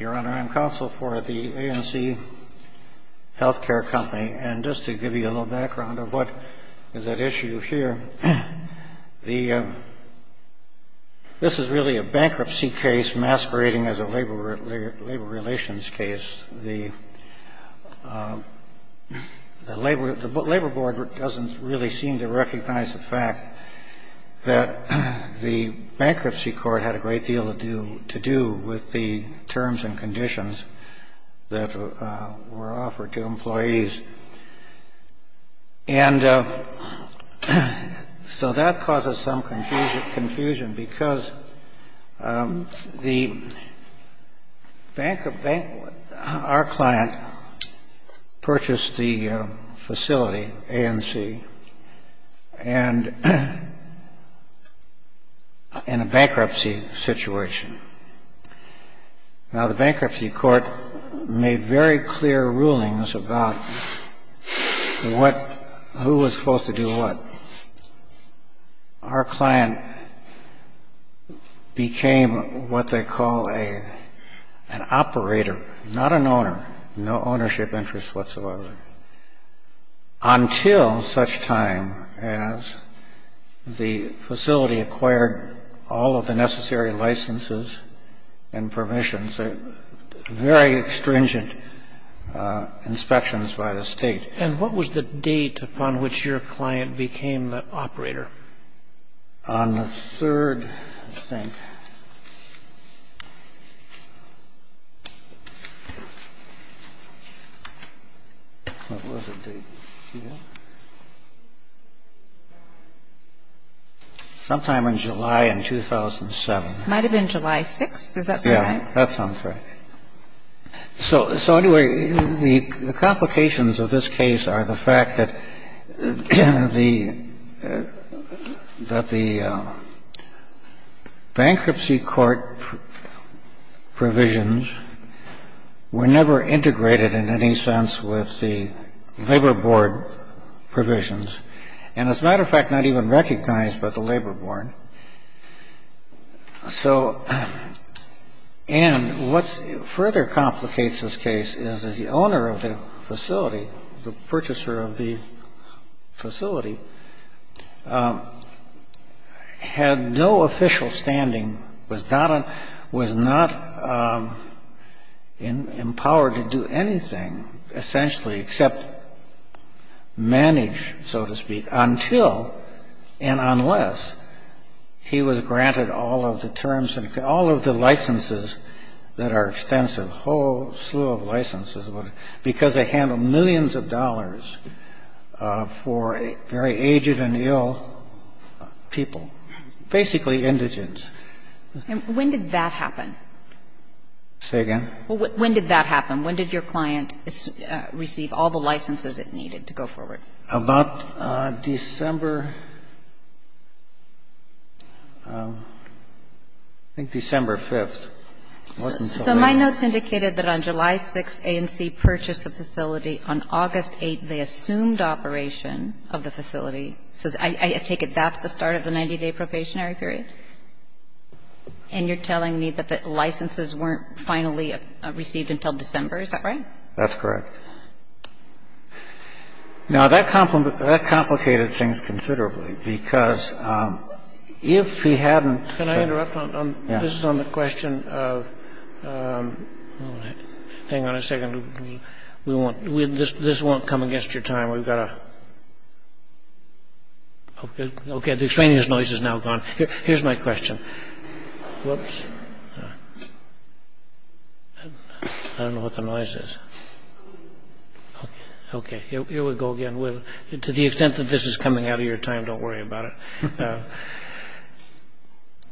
Your Honor, I am counsel for the A&C Healthcare Company. And just to give you a little background of what is at issue here, this is really a bankruptcy case masquerading as a labor relations case. The Labor Board doesn't really seem to recognize the fact that the bankruptcy court had a great deal to do with the terms and conditions that were offered to employees. And so that causes some confusion, because our client purchased the facility, A&C, and in a bankruptcy situation. Now, the bankruptcy court made very clear rulings about who was supposed to do what. Our client became what they call an operator, not an owner. No ownership interests whatsoever. Until such time as the facility acquired all of the necessary licenses and permissions, very stringent inspections by the State. And what was the date upon which your client became the operator? On the third, I think, what was the date? Sometime in July in 2007. Might have been July 6th. Is that right? That sounds right. So anyway, the complications of this case are the fact that the bankruptcy court provisions were never integrated in any sense with the Labor Board provisions. And as a matter of fact, not even recognized by the Labor Board. And what further complicates this case is that the owner of the facility, the purchaser of the facility, had no official standing, was not empowered to do anything, essentially, except manage, so to speak, until and unless he was granted all of the terms and all of the licenses that are extensive, whole slew of licenses, because they handle millions of dollars for very aged and ill people, basically indigent. And when did that happen? Say again? When did that happen? When did your client receive all the licenses it needed to go forward? About December, I think December 5th. So my notes indicated that on July 6th, A&C purchased the facility. On August 8th, they assumed operation of the facility. So I take it that's the start of the 90-day probationary period? And you're telling me that the licenses weren't finally received until December, is that right? That's correct. Now, that complicated things considerably, because if he hadn't been... Can I interrupt? Yes. This is on the question of – hang on a second. We won't – this won't come against your time. We've got to – okay. The extraneous noise is now gone. Here's my question. Whoops. I don't know what the noise is. Okay. Here we go again. To the extent that this is coming out of your time, don't worry about it.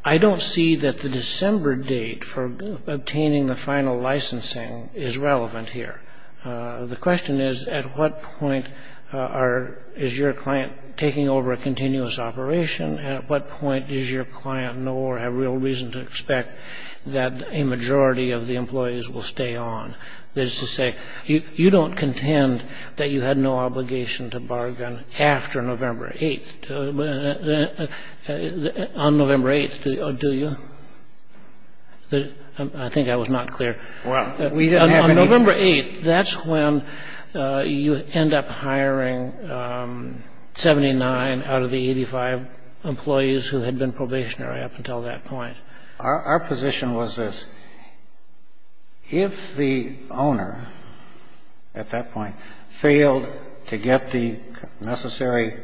I don't see that the December date for obtaining the final licensing is relevant here. The question is, at what point is your client taking over a continuous operation and at what point does your client know or have real reason to expect that a majority of the employees will stay on? That is to say, you don't contend that you had no obligation to bargain after November 8th. On November 8th, do you? I think I was not clear. On November 8th, that's when you end up hiring 79 out of the 85 employees who had been probationary up until that point. Our position was this. If the owner at that point failed to get the necessary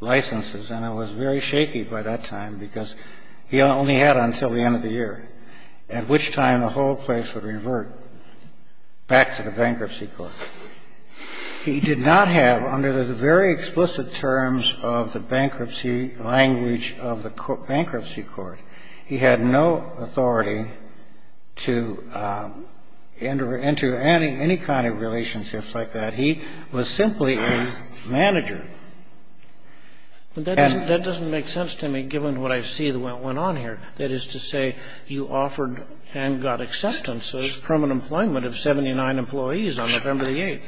licenses, and it was very shaky by that time because he only had until the end of the year, at which time the whole place would revert back to the bankruptcy court. He did not have, under the very explicit terms of the bankruptcy language of the bankruptcy court, he had no authority to enter any kind of relationships like that. He was simply a manager. That doesn't make sense to me, given what I see that went on here. That is to say, you offered and got acceptances from an employment of 79 employees on November the 8th.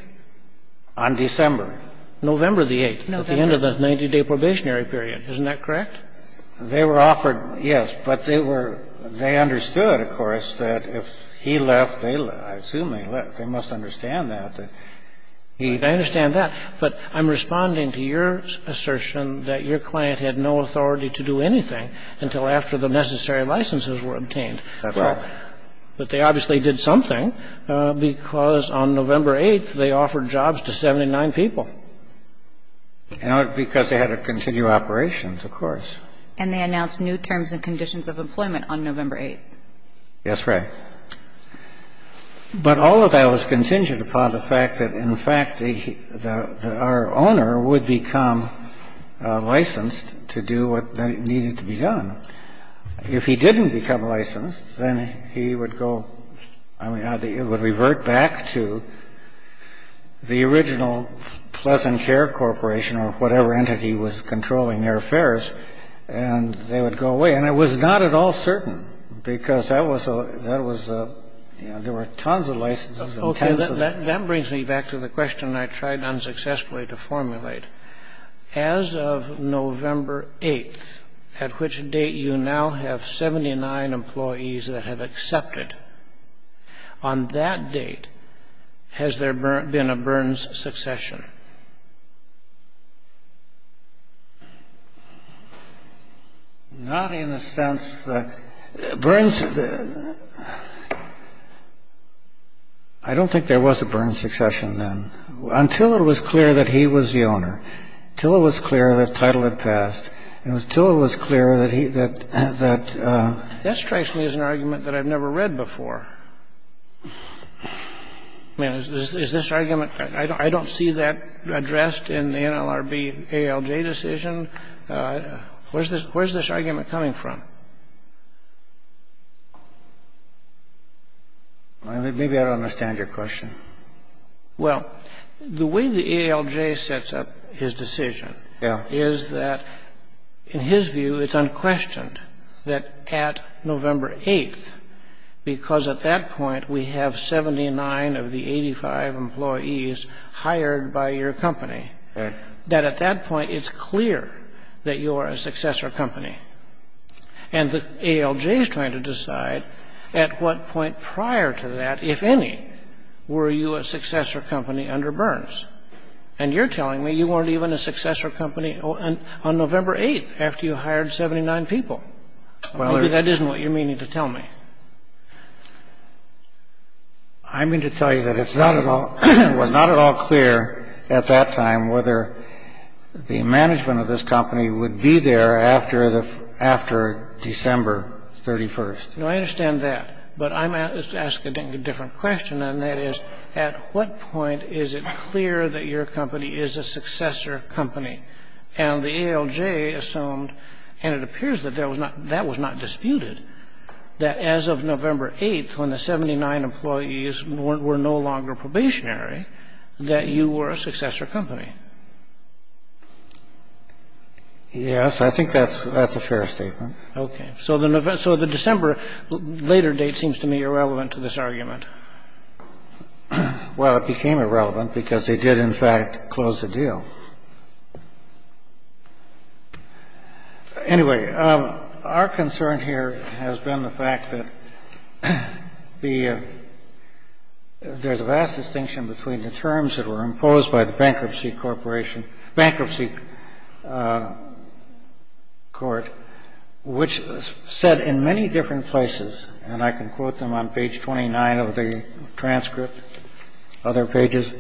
On December. November the 8th. November. At the end of the 90-day probationary period. Isn't that correct? They were offered, yes. But they were they understood, of course, that if he left, they left. I assume they left. They must understand that. They understand that. But I'm responding to your assertion that your client had no authority to do anything until after the necessary licenses were obtained. That's right. But they obviously did something, because on November 8th, they offered jobs to 79 people. Because they had to continue operations, of course. And they announced new terms and conditions of employment on November 8th. That's right. But all of that was contingent upon the fact that, in fact, our owner would become licensed to do what needed to be done. If he didn't become licensed, then he would go, I mean, it would revert back to the original Pleasant Care Corporation or whatever entity was controlling their affairs, and they would go away. And it was not at all certain, because that was a, that was a, you know, there were tons of licenses and tons of. And that brings me back to the question I tried unsuccessfully to formulate. As of November 8th, at which date you now have 79 employees that have accepted, on that date, has there been a Burns succession? Not in the sense that Burns. I don't think there was a Burns succession then. Until it was clear that he was the owner. Until it was clear that title had passed. It was until it was clear that he, that. That strikes me as an argument that I've never read before. I mean, is this argument. I don't see that. Is this argument addressed in the NLRB ALJ decision? Where's this argument coming from? Maybe I don't understand your question. Well, the way the ALJ sets up his decision. Yeah. Is that, in his view, it's unquestioned that at November 8th, because at that point, we have 79 of the 85 employees hired by your company. That at that point, it's clear that you are a successor company. And the ALJ is trying to decide at what point prior to that, if any, were you a successor company under Burns. And you're telling me you weren't even a successor company on November 8th, after you hired 79 people. Well. Maybe that isn't what you're meaning to tell me. I mean to tell you that it's not at all, it was not at all clear at that time whether the management of this company would be there after the, after December 31st. No, I understand that. But I'm asking a different question, and that is, at what point is it clear that your company is a successor company? And the ALJ assumed, and it appears that that was not disputed, that as of November 8th, when the 79 employees were no longer probationary, that you were a successor company. Yes, I think that's a fair statement. Okay. So the December later date seems to me irrelevant to this argument. Well, it became irrelevant because they did, in fact, close the deal. Anyway, our concern here has been the fact that the, there's a vast distinction between the terms that were imposed by the bankruptcy corporation, bankruptcy court, which said in many different places, and I can quote them on page 29 of the transcript, other pages,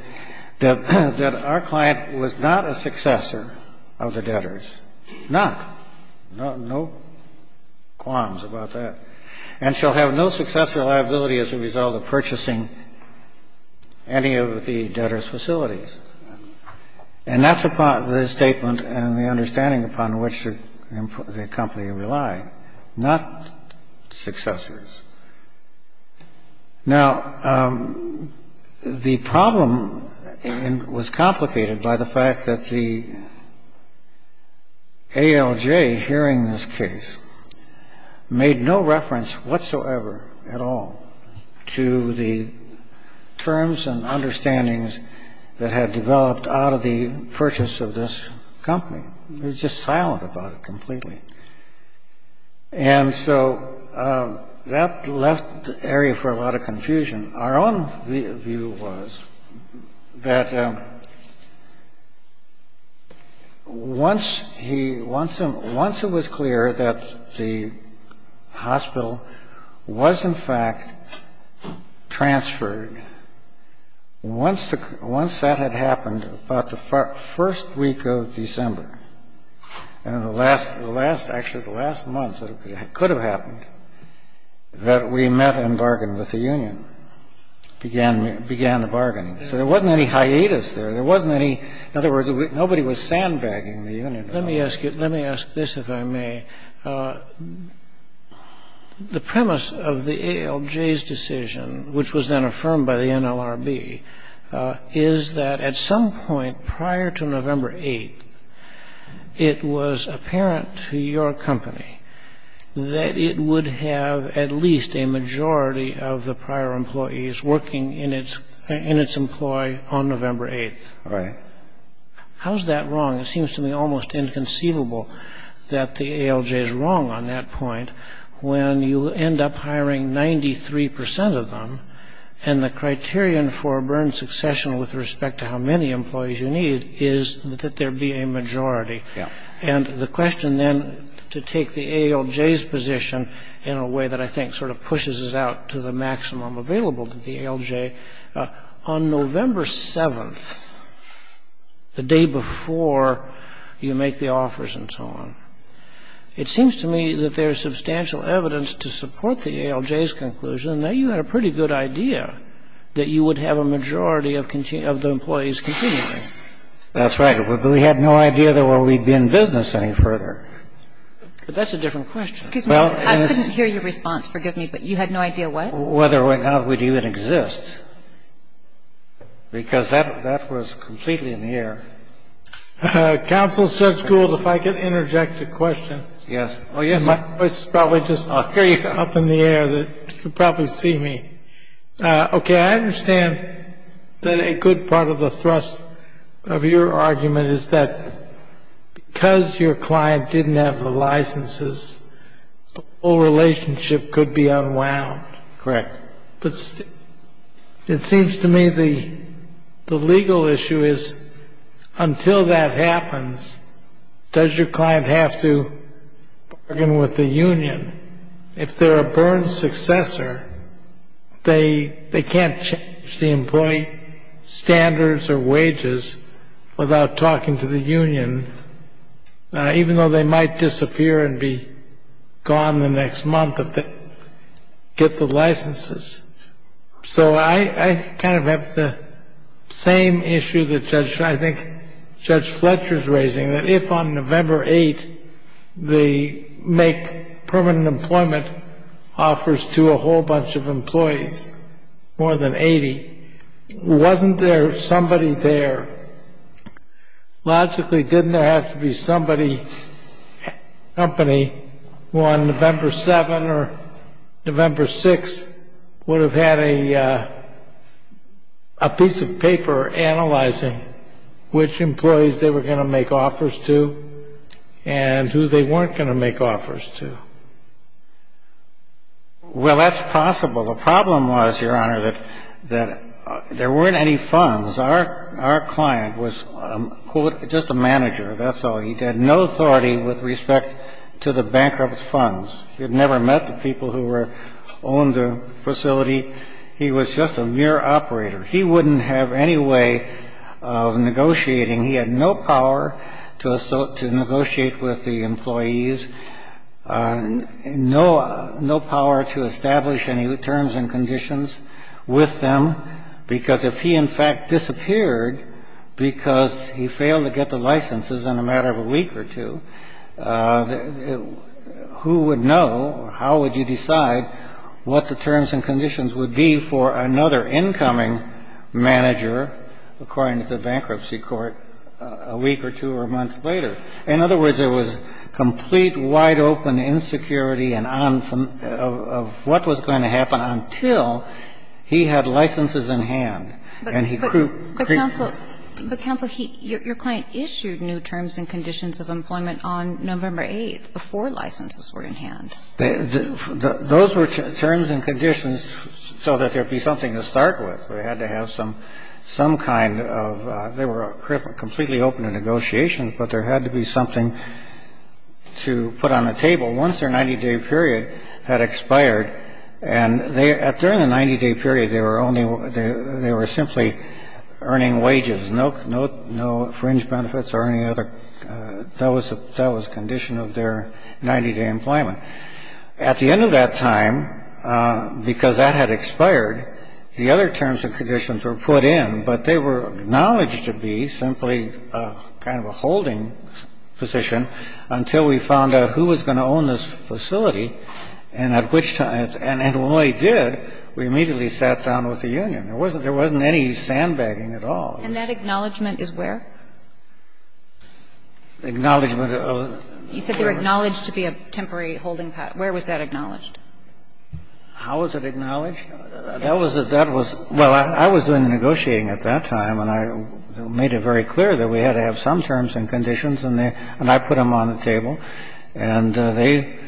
that our client was not a successor of the debtors. Not. No qualms about that. And shall have no successor liability as a result of purchasing any of the debtors' facilities. And that's upon the statement and the understanding upon which the company relied, not successors. Now, the problem was complicated by the fact that the ALJ, hearing this case, made no reference whatsoever at all to the terms and understandings that had developed out of the purchase of this company. It was just silent about it completely. And so that left the area for a lot of confusion. Our own view was that once he, once it was clear that the hospital was, in fact, transferred, once that had happened about the first week of December, and in the last, actually the last month that it could have happened, that we met and bargained with the union, began the bargaining. So there wasn't any hiatus there. There wasn't any, in other words, nobody was sandbagging the union. Let me ask you, let me ask this, if I may. The premise of the ALJ's decision, which was then affirmed by the NLRB, is that at some point prior to November 8th, it was apparent to your company that it would have at least a majority of the prior employees working in its employ on November 8th. Right. How is that wrong? It seems to me almost inconceivable that the ALJ is wrong on that point when you end up hiring 93 percent of them, and the criterion for burned succession with respect to how many employees you need is that there be a majority. And the question then to take the ALJ's position in a way that I think sort of pushes it out to the maximum available to the ALJ. Well, let me ask you this. On November 7th, the day before you make the offers and so on, it seems to me that there is substantial evidence to support the ALJ's conclusion that you had a pretty good idea that you would have a majority of the employees continuing. That's right. We had no idea that we would be in business any further. But that's a different question. Excuse me. I couldn't hear your response. Forgive me. But you had no idea what? I had no idea whether or not we'd even exist, because that was completely in the air. Counsel Judge Gould, if I could interject a question. Yes. Oh, yes. My voice is probably just up in the air. You can probably see me. Okay. I understand that a good part of the thrust of your argument is that because your client didn't have the licenses, the whole relationship could be unwound. Correct. But it seems to me the legal issue is until that happens, does your client have to bargain with the union? If they're a Byrne successor, they can't change the employee standards or wages without talking to the union, even though they might disappear and be gone the next month if they get the licenses. So I kind of have the same issue that I think Judge Fletcher is raising, that if on November 8th they make permanent employment offers to a whole bunch of employees, more than 80, wasn't there somebody there? Logically, didn't there have to be somebody, company, who on November 7th or November 6th would have had a piece of paper analyzing which employees they were going to make offers to and who they weren't going to make offers to? Well, that's possible. The problem was, Your Honor, that there weren't any funds. Our client was, quote, just a manager, that's all. He had no authority with respect to the bankrupt funds. He had never met the people who owned the facility. He was just a mere operator. He wouldn't have any way of negotiating. He had no power to negotiate with the employees, no power to establish any terms and conditions with them, because if he, in fact, disappeared because he failed to get the licenses in a matter of a week or two, who would know or how would you decide what the terms and conditions would be for another incoming manager, according to the bankruptcy court, a week or two or a month later? In other words, there was complete, wide-open insecurity of what was going to happen until he had licenses in hand and he could create the conditions. But, counsel, your client issued new terms and conditions of employment on November 8th before licenses were in hand. Those were terms and conditions so that there would be something to start with. They had to have some kind of they were completely open to negotiations, but there had to be something to put on the table once their 90-day period had expired. And during the 90-day period, they were simply earning wages, no fringe benefits or any other. That was the condition of their 90-day employment. At the end of that time, because that had expired, the other terms and conditions were put in, but they were acknowledged to be simply kind of a holding position until we found out who was going to own this facility, and at which time, and when they did, we immediately sat down with the union. There wasn't any sandbagging at all. And that acknowledgment is where? Acknowledgement of? You said they were acknowledged to be a temporary holding position. Where was that acknowledged? How was it acknowledged? That was, that was, well, I was negotiating at that time, and I made it very clear that we had to have some terms and conditions, and I put them on the table, and they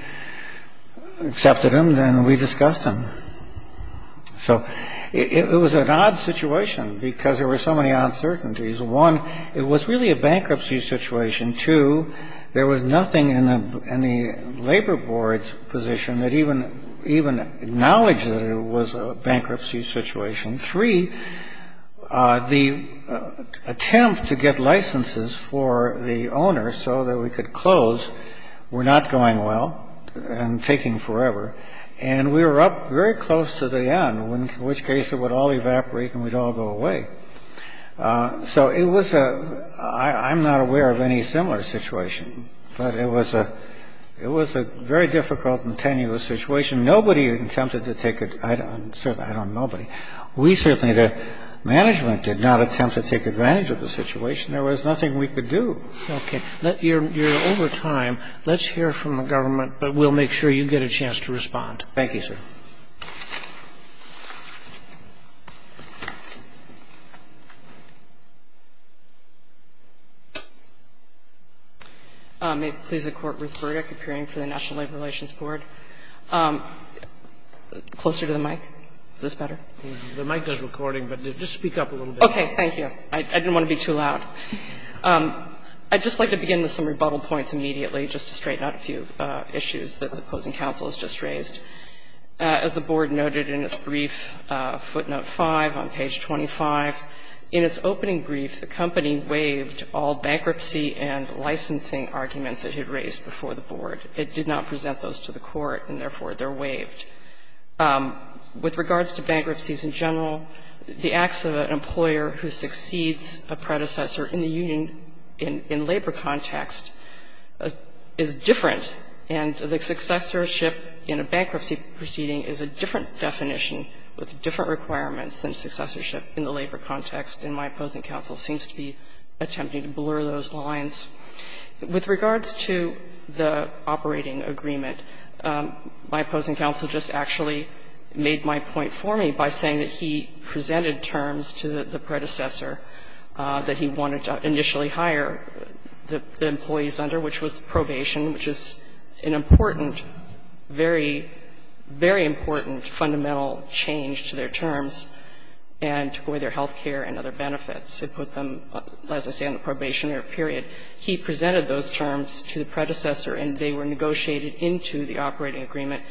accepted them, and we discussed them. So it was an odd situation because there were so many uncertainties. One, it was really a bankruptcy situation. Two, there was nothing in the labor board's position that even acknowledged that it was a bankruptcy situation. Three, the attempt to get licenses for the owner so that we could close were not going well and taking forever, and we were up very close to the end, in which case it would all evaporate and we'd all go away. So it was a, I'm not aware of any similar situation, but it was a, it was a very difficult and tenuous situation. Nobody attempted to take it, certainly, I don't know, but we certainly, the management did not attempt to take advantage of the situation. There was nothing we could do. Okay. You're over time. Let's hear from the government, but we'll make sure you get a chance to respond. Thank you, sir. May it please the Court, Ruth Burdick, appearing for the National Labor Relations Board. Closer to the mic. Is this better? The mic is recording, but just speak up a little bit. Okay. Thank you. I didn't want to be too loud. I'd just like to begin with some rebuttal points immediately, just to straighten First of all, I would like to begin by saying that I think it's very important As the Board noted in its brief, footnote 5 on page 25, in its opening brief, the company waived all bankruptcy and licensing arguments it had raised before the Board. It did not present those to the Court, and therefore, they're waived. With regards to bankruptcies in general, the acts of an employer who succeeds a predecessor in the union in labor context is different, and the successorship in a bankruptcy proceeding is a different definition with different requirements than successorship in the labor context, and my opposing counsel seems to be attempting to blur those lines. With regards to the operating agreement, my opposing counsel just actually made my point for me by saying that he presented terms to the predecessor that he wanted to initially hire the employees under, which was probation, which is an important very, very important fundamental change to their terms and to go with their health care and other benefits. It put them, as I say, on the probationary period. He presented those terms to the predecessor, and they were negotiated into the operating agreement.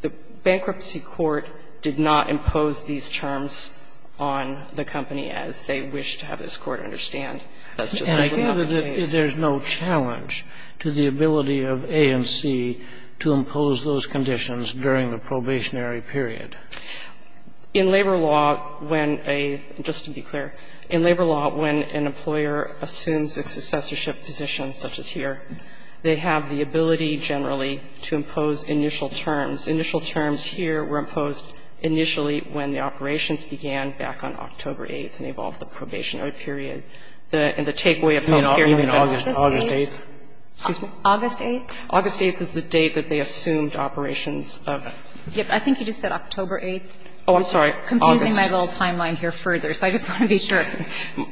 The Bankruptcy Court did not impose these terms on the company as they wished to have this Court understand. That's just simply not the case. And I gather that there's no challenge to the ability of A and C to impose those conditions during the probationary period. In labor law, when a — just to be clear, in labor law, when an employer assumes a successorship position such as here, they have the ability generally to impose initial terms. Initial terms here were imposed initially when the operations began back on October 8th and involved the probationary period and the takeaway of health care. And even August 8th? Excuse me? August 8th. August 8th is the date that they assumed operations of. I think you just said October 8th. Oh, I'm sorry. I'm confusing my little timeline here further, so I just want to be sure.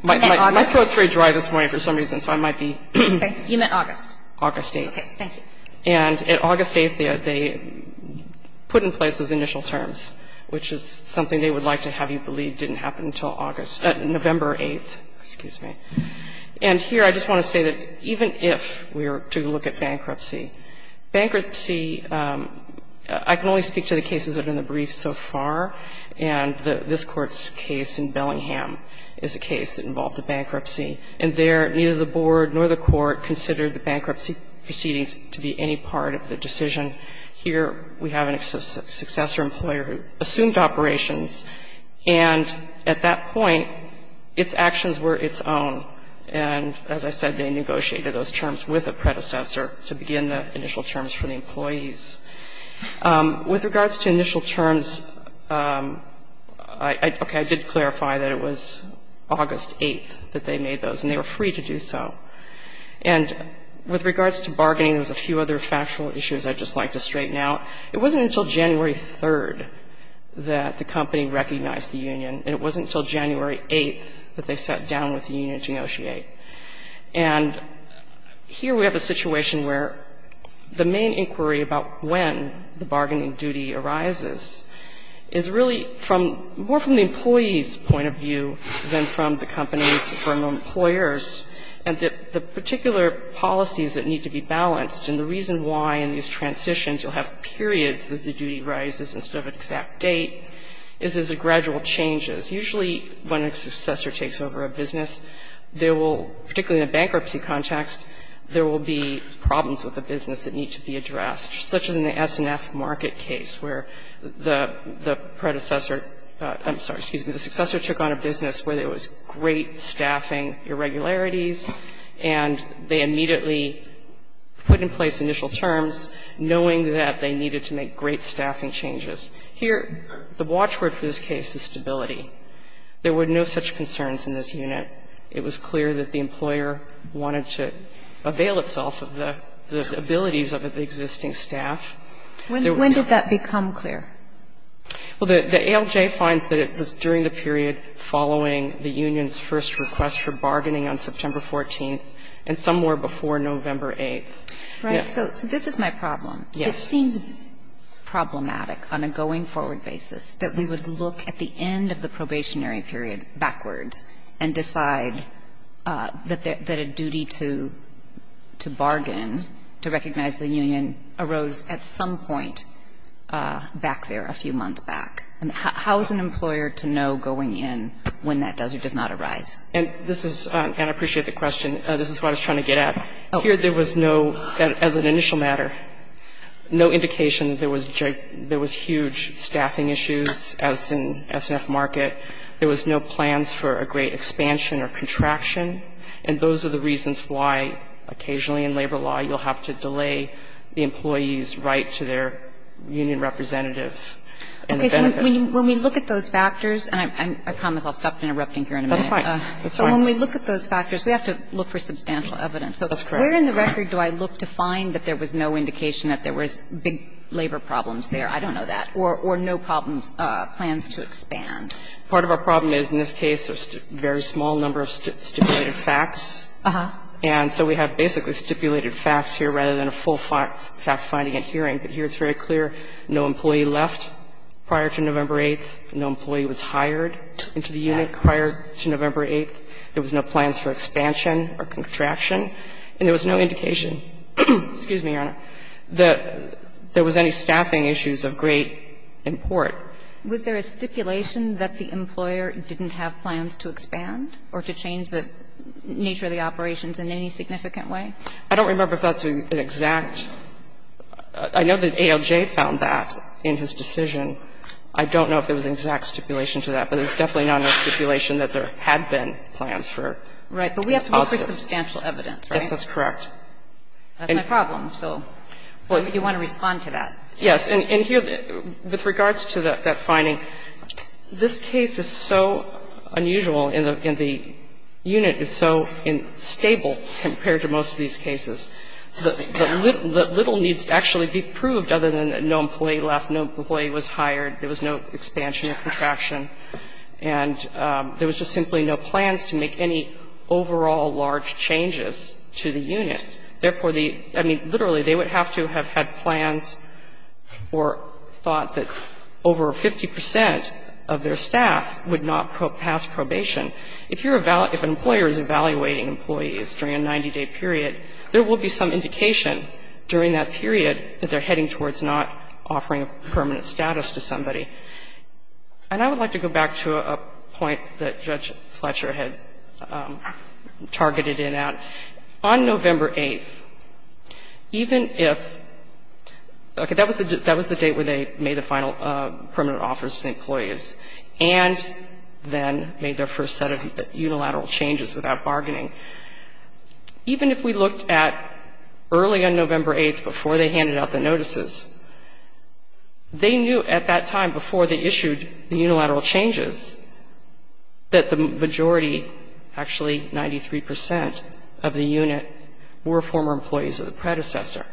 My throat's very dry this morning for some reason, so I might be. Okay. You meant August. August 8th. Thank you. And at August 8th, they put in place those initial terms, which is something they would like to have you believe didn't happen until August — November 8th. Excuse me. And here I just want to say that even if we were to look at bankruptcy, bankruptcy — I can only speak to the cases that have been in the brief so far, and this Court's case in Bellingham is a case that involved a bankruptcy. And there, neither the board nor the court considered the bankruptcy proceedings to be any part of the decision. Here we have a successor employer who assumed operations, and at that point, its actions were its own. And as I said, they negotiated those terms with a predecessor to begin the initial terms for the employees. With regards to initial terms, okay, I did clarify that it was August 8th that they made those, and they were free to do so. And with regards to bargaining, there's a few other factual issues I'd just like to straighten out. It wasn't until January 3rd that the company recognized the union, and it wasn't until January 8th that they sat down with the union to negotiate. And here we have a situation where the main inquiry about when the bargaining duty arises is really from — more from the employee's point of view than from the employer's point of view. And the particular policies that need to be balanced, and the reason why in these transitions you'll have periods that the duty rises instead of an exact date, is as a gradual changes. Usually when a successor takes over a business, there will, particularly in a bankruptcy context, there will be problems with the business that need to be addressed, such as in the S&F market case where the predecessor — I'm sorry, excuse me — the immediately put in place initial terms knowing that they needed to make great staffing changes. Here, the watchword for this case is stability. There were no such concerns in this unit. It was clear that the employer wanted to avail itself of the abilities of the existing staff. When did that become clear? Well, the ALJ finds that it was during the period following the union's first request for bargaining on September 14th and somewhere before November 8th. Right. So this is my problem. Yes. It seems problematic on a going-forward basis that we would look at the end of the probationary period backwards and decide that a duty to bargain, to recognize the union, arose at some point back there a few months back. How is an employer to know going in when that does or does not arise? And this is — and I appreciate the question. This is what I was trying to get at. Oh. Here there was no — as an initial matter, no indication that there was huge staffing issues as in S&F market. There was no plans for a great expansion or contraction. And those are the reasons why occasionally in labor law you'll have to delay the employee's right to their union representative and the benefit. Okay. So when we look at those factors — and I promise I'll stop interrupting here in a minute. That's fine. That's fine. So when we look at those factors, we have to look for substantial evidence. That's correct. So where in the record do I look to find that there was no indication that there was big labor problems there? I don't know that. Or no problems, plans to expand. Part of our problem is, in this case, a very small number of stipulated facts. And so we have basically stipulated facts here rather than a full fact-finding and hearing. But here it's very clear no employee left prior to November 8th. No employee was hired into the unit prior to November 8th. There was no plans for expansion or contraction. And there was no indication — excuse me, Your Honor — that there was any staffing issues of great import. Was there a stipulation that the employer didn't have plans to expand or to change the nature of the operations in any significant way? I don't remember if that's an exact — I know that ALJ found that in his decision. I don't know if there was an exact stipulation to that, but there's definitely now no stipulation that there had been plans for positive. Right. But we have to look for substantial evidence, right? Yes, that's correct. That's my problem. So you want to respond to that. Yes. And here, with regards to that finding, this case is so unusual and the unit is so unstable compared to most of these cases. The little needs to actually be proved other than that no employee left, no employee was hired, there was no expansion or contraction. And there was just simply no plans to make any overall large changes to the unit. Therefore, the — I mean, literally, they would have to have had plans or thought that over 50 percent of their staff would not pass probation. If an employer is evaluating employees during a 90-day period, there will be some indication during that period that they're heading towards not offering a permanent status to somebody. And I would like to go back to a point that Judge Fletcher had targeted in that. On November 8th, even if — okay, that was the date where they made the final permanent offers to employees and then made their first set of unilateral changes without bargaining. Even if we looked at early on November 8th before they handed out the notices, they knew at that time before they issued the unilateral changes that the majority, actually 93 percent of the unit, were former employees of the predecessor.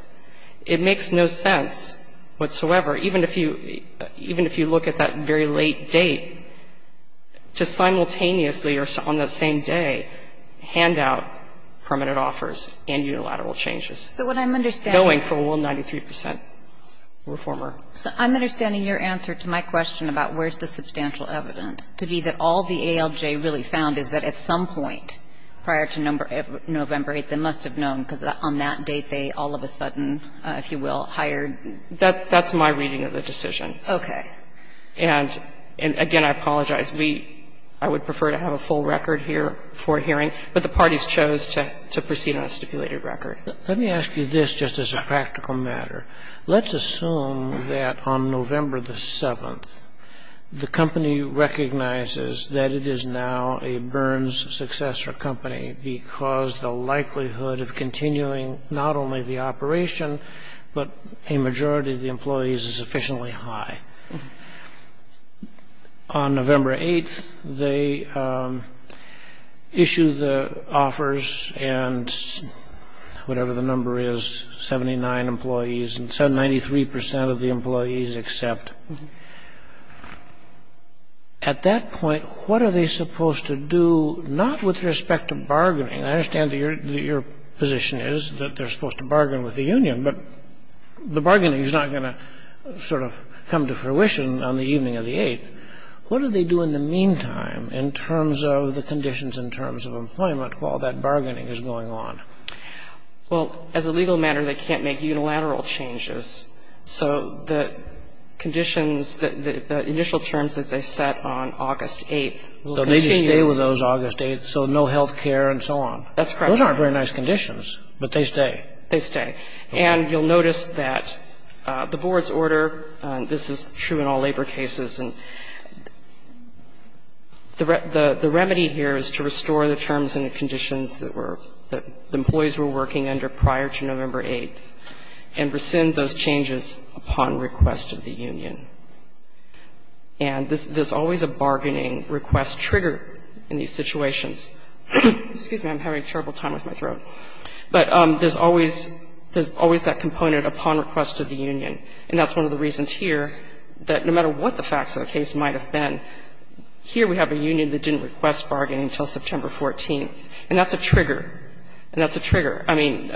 It makes no sense whatsoever, even if you — even if you look at that very late date, to simultaneously or on that same day hand out permanent offers and unilateral changes. So what I'm understanding — Going for, well, 93 percent were former. So I'm understanding your answer to my question about where's the substantial evidence, to be that all the ALJ really found is that at some point prior to November 8th, they must have known, because on that date, they all of a sudden, if you will, hired — That's my reading of the decision. Okay. And again, I apologize. We — I would prefer to have a full record here for hearing, but the parties chose to proceed on a stipulated record. Let me ask you this just as a practical matter. Let's assume that on November the 7th, the company recognizes that it is now a Burns successor company because the likelihood of continuing not only the operation, but a majority of the employees is sufficiently high. On November 8th, they issue the offers and whatever the number is, 79 employees and 93 percent of the employees accept. At that point, what are they supposed to do not with respect to bargaining? I understand that your position is that they're supposed to bargain with the union, but the bargaining is not going to sort of come to fruition on the evening of the 8th. What do they do in the meantime in terms of the conditions in terms of employment while that bargaining is going on? Well, as a legal matter, they can't make unilateral changes. So the conditions, the initial terms that they set on August 8th will continue. So they just stay with those August 8ths, so no health care and so on. That's correct. Those aren't very nice conditions, but they stay. They stay. And you'll notice that the board's order, this is true in all labor cases, and the remedy here is to restore the terms and the conditions that were — that the employees were working under prior to November 8th and rescind those changes upon request of the union. And there's always a bargaining request trigger in these situations. Excuse me. I'm having a terrible time with my throat. But there's always — there's always that component upon request of the union, and that's one of the reasons here that no matter what the facts of the case might have been, here we have a union that didn't request bargaining until September 14th, and that's a trigger. And that's a trigger. I mean,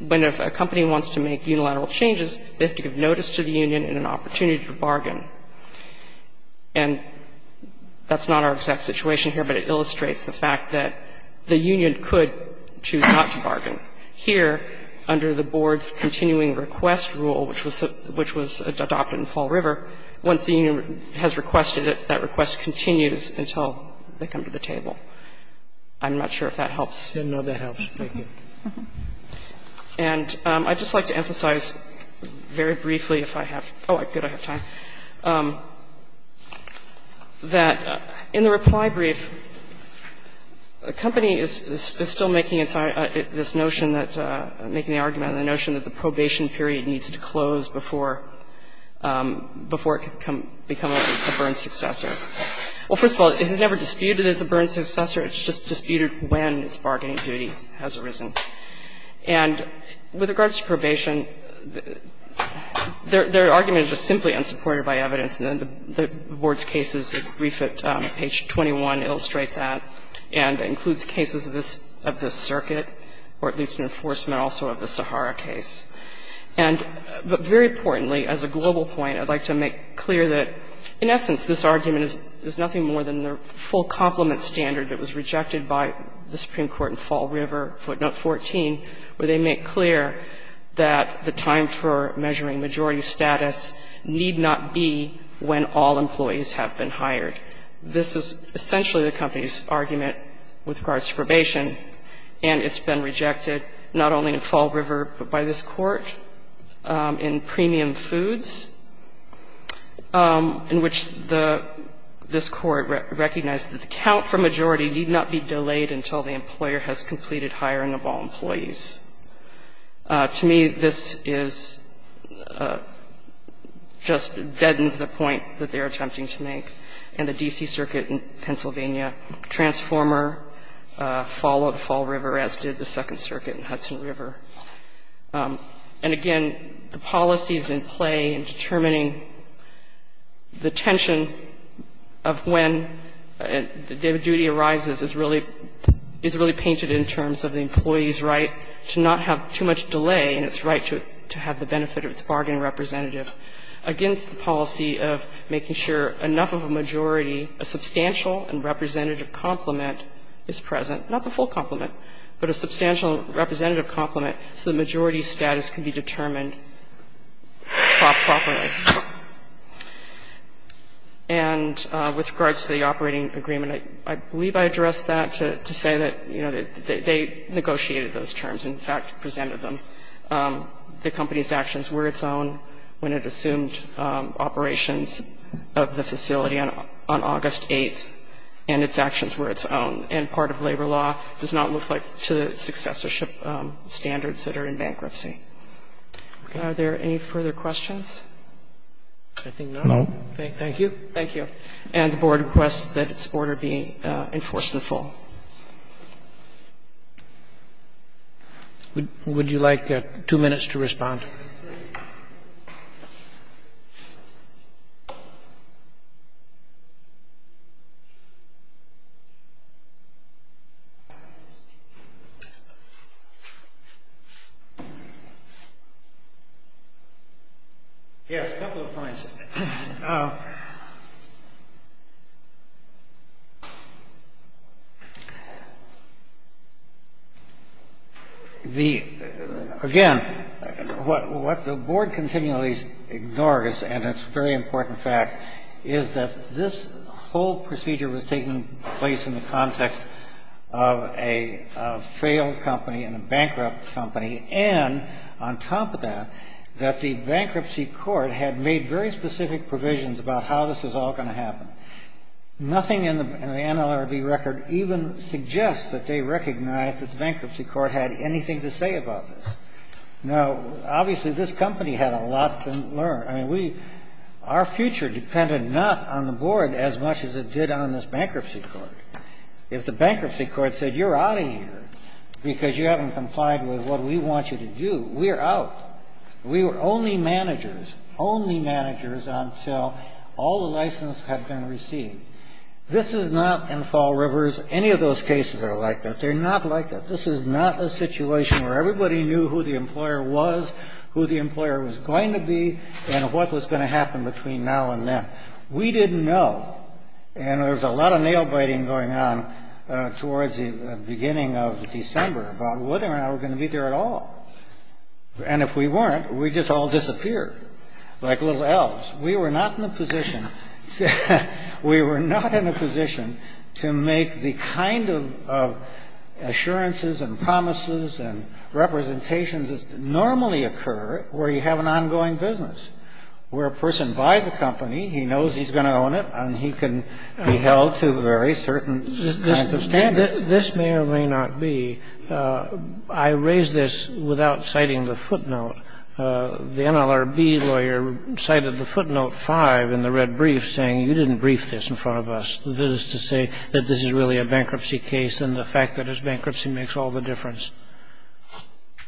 when a company wants to make unilateral changes, they have to give notice to the union and an opportunity to bargain. And that's not our exact situation here, but it illustrates the fact that the union could choose not to bargain. Here, under the board's continuing request rule, which was adopted in Fall River, once the union has requested it, that request continues until they come to the table. I'm not sure if that helps. No, that helps. Thank you. And I'd just like to emphasize very briefly, if I have — oh, good. I have time. That in the reply brief, a company is still making this notion that — making the argument on the notion that the probation period needs to close before it can become a burn successor. Well, first of all, it's never disputed as a burn successor. It's just disputed when its bargaining duty has arisen. And with regards to probation, their argument is simply unsupported by evidence. And the board's cases, brief at page 21, illustrate that and includes cases of this circuit, or at least an enforcement also of the Sahara case. And very importantly, as a global point, I'd like to make clear that, in essence, this argument is nothing more than the full complement standard that was rejected by the Supreme Court in Fall River, footnote 14, where they make clear that the time for measuring majority status need not be when all employees have been hired. This is essentially the company's argument with regards to probation, and it's been rejected not only in Fall River, but by this Court in premium foods, in which this Court recognized that the count for majority need not be delayed until the employer has completed hiring of all employees. To me, this is — just deadens the point that they're attempting to make. And again, the policies in play in determining the tension of when their duty arises is really painted in terms of the employee's right to not have too much delay and its right to have the benefit of its bargaining representative, against the policy of making sure enough of a majority, a substantial and representative complement is present, not the full complement, but a substantial representative complement so the majority status can be determined properly. And with regards to the operating agreement, I believe I addressed that to say that, you know, they negotiated those terms and, in fact, presented them. And I think it's important to note that the company's actions were its own when it assumed operations of the facility on August 8th, and its actions were its own. And part of labor law does not look like to the successorship standards that are in bankruptcy. Are there any further questions? I think not. No. Thank you. Thank you. If there are no further questions, I think we can adjourn at this point. And the Board requests that its order be enforcement full. Would you like two minutes to respond? Yes, a couple of points. The, again, what the Board continually ignores, and it's a very important fact, is that this whole procedure was taking place in the context of a failed company and a bankrupt company, and on top of that, that the Bankruptcy Court had made very specific provisions about how this was all going to happen. Nothing in the NLRB record even suggests that they recognized that the Bankruptcy Court had anything to say about this. Now, obviously, this company had a lot to learn. I mean, we, our future depended not on the Board as much as it did on this Bankruptcy Court. If the Bankruptcy Court said, you're out of here because you haven't complied with what we want you to do, we're out. We were only managers, only managers until all the licenses had been received. This is not, in Fall Rivers, any of those cases are like that. They're not like that. This is not a situation where everybody knew who the employer was, who the employer was going to be, and what was going to happen between now and then. We didn't know, and there was a lot of nail-biting going on towards the beginning of December about whether or not we were going to be there at all. And if we weren't, we'd just all disappear like little elves. We were not in a position, we were not in a position to make the kind of assurances and promises and representations that normally occur where you have an ongoing business, where a person buys a company, he knows he's going to own it, and he can be held to very certain kinds of standards. This may or may not be. I raise this without citing the footnote. The NLRB lawyer cited the footnote five in the red brief saying, you didn't brief this in front of us. This is to say that this is really a bankruptcy case and the fact that it's bankruptcy makes all the difference.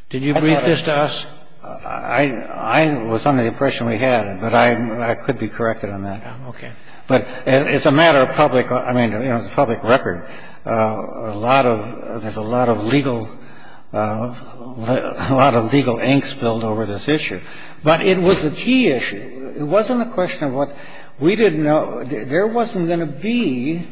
Did you brief this to us? I was under the impression we had, but I could be corrected on that. Okay. But it's a matter of public, I mean, it's a public record. A lot of, there's a lot of legal, a lot of legal ink spilled over this issue. But it was a key issue. It wasn't a question of what, we didn't know, there wasn't going to be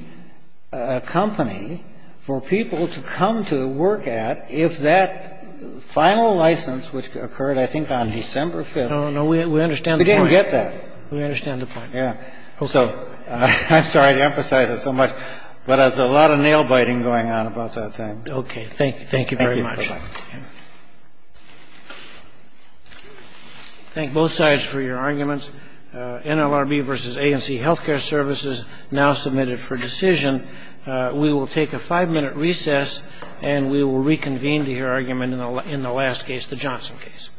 a company for people to come to work at if that final license, which occurred, I think, on December 5th. No, no, we understand the point. We didn't get that. We understand the point. Yeah. I'm sorry to emphasize it so much, but there's a lot of nail-biting going on about that thing. Okay. Thank you very much. Thank you. Thank both sides for your arguments. NLRB v. A&C Healthcare Services now submitted for decision. We will take a five-minute recess and we will reconvene to hear argument in the last case, the Johnson case. Thank you. Thank you.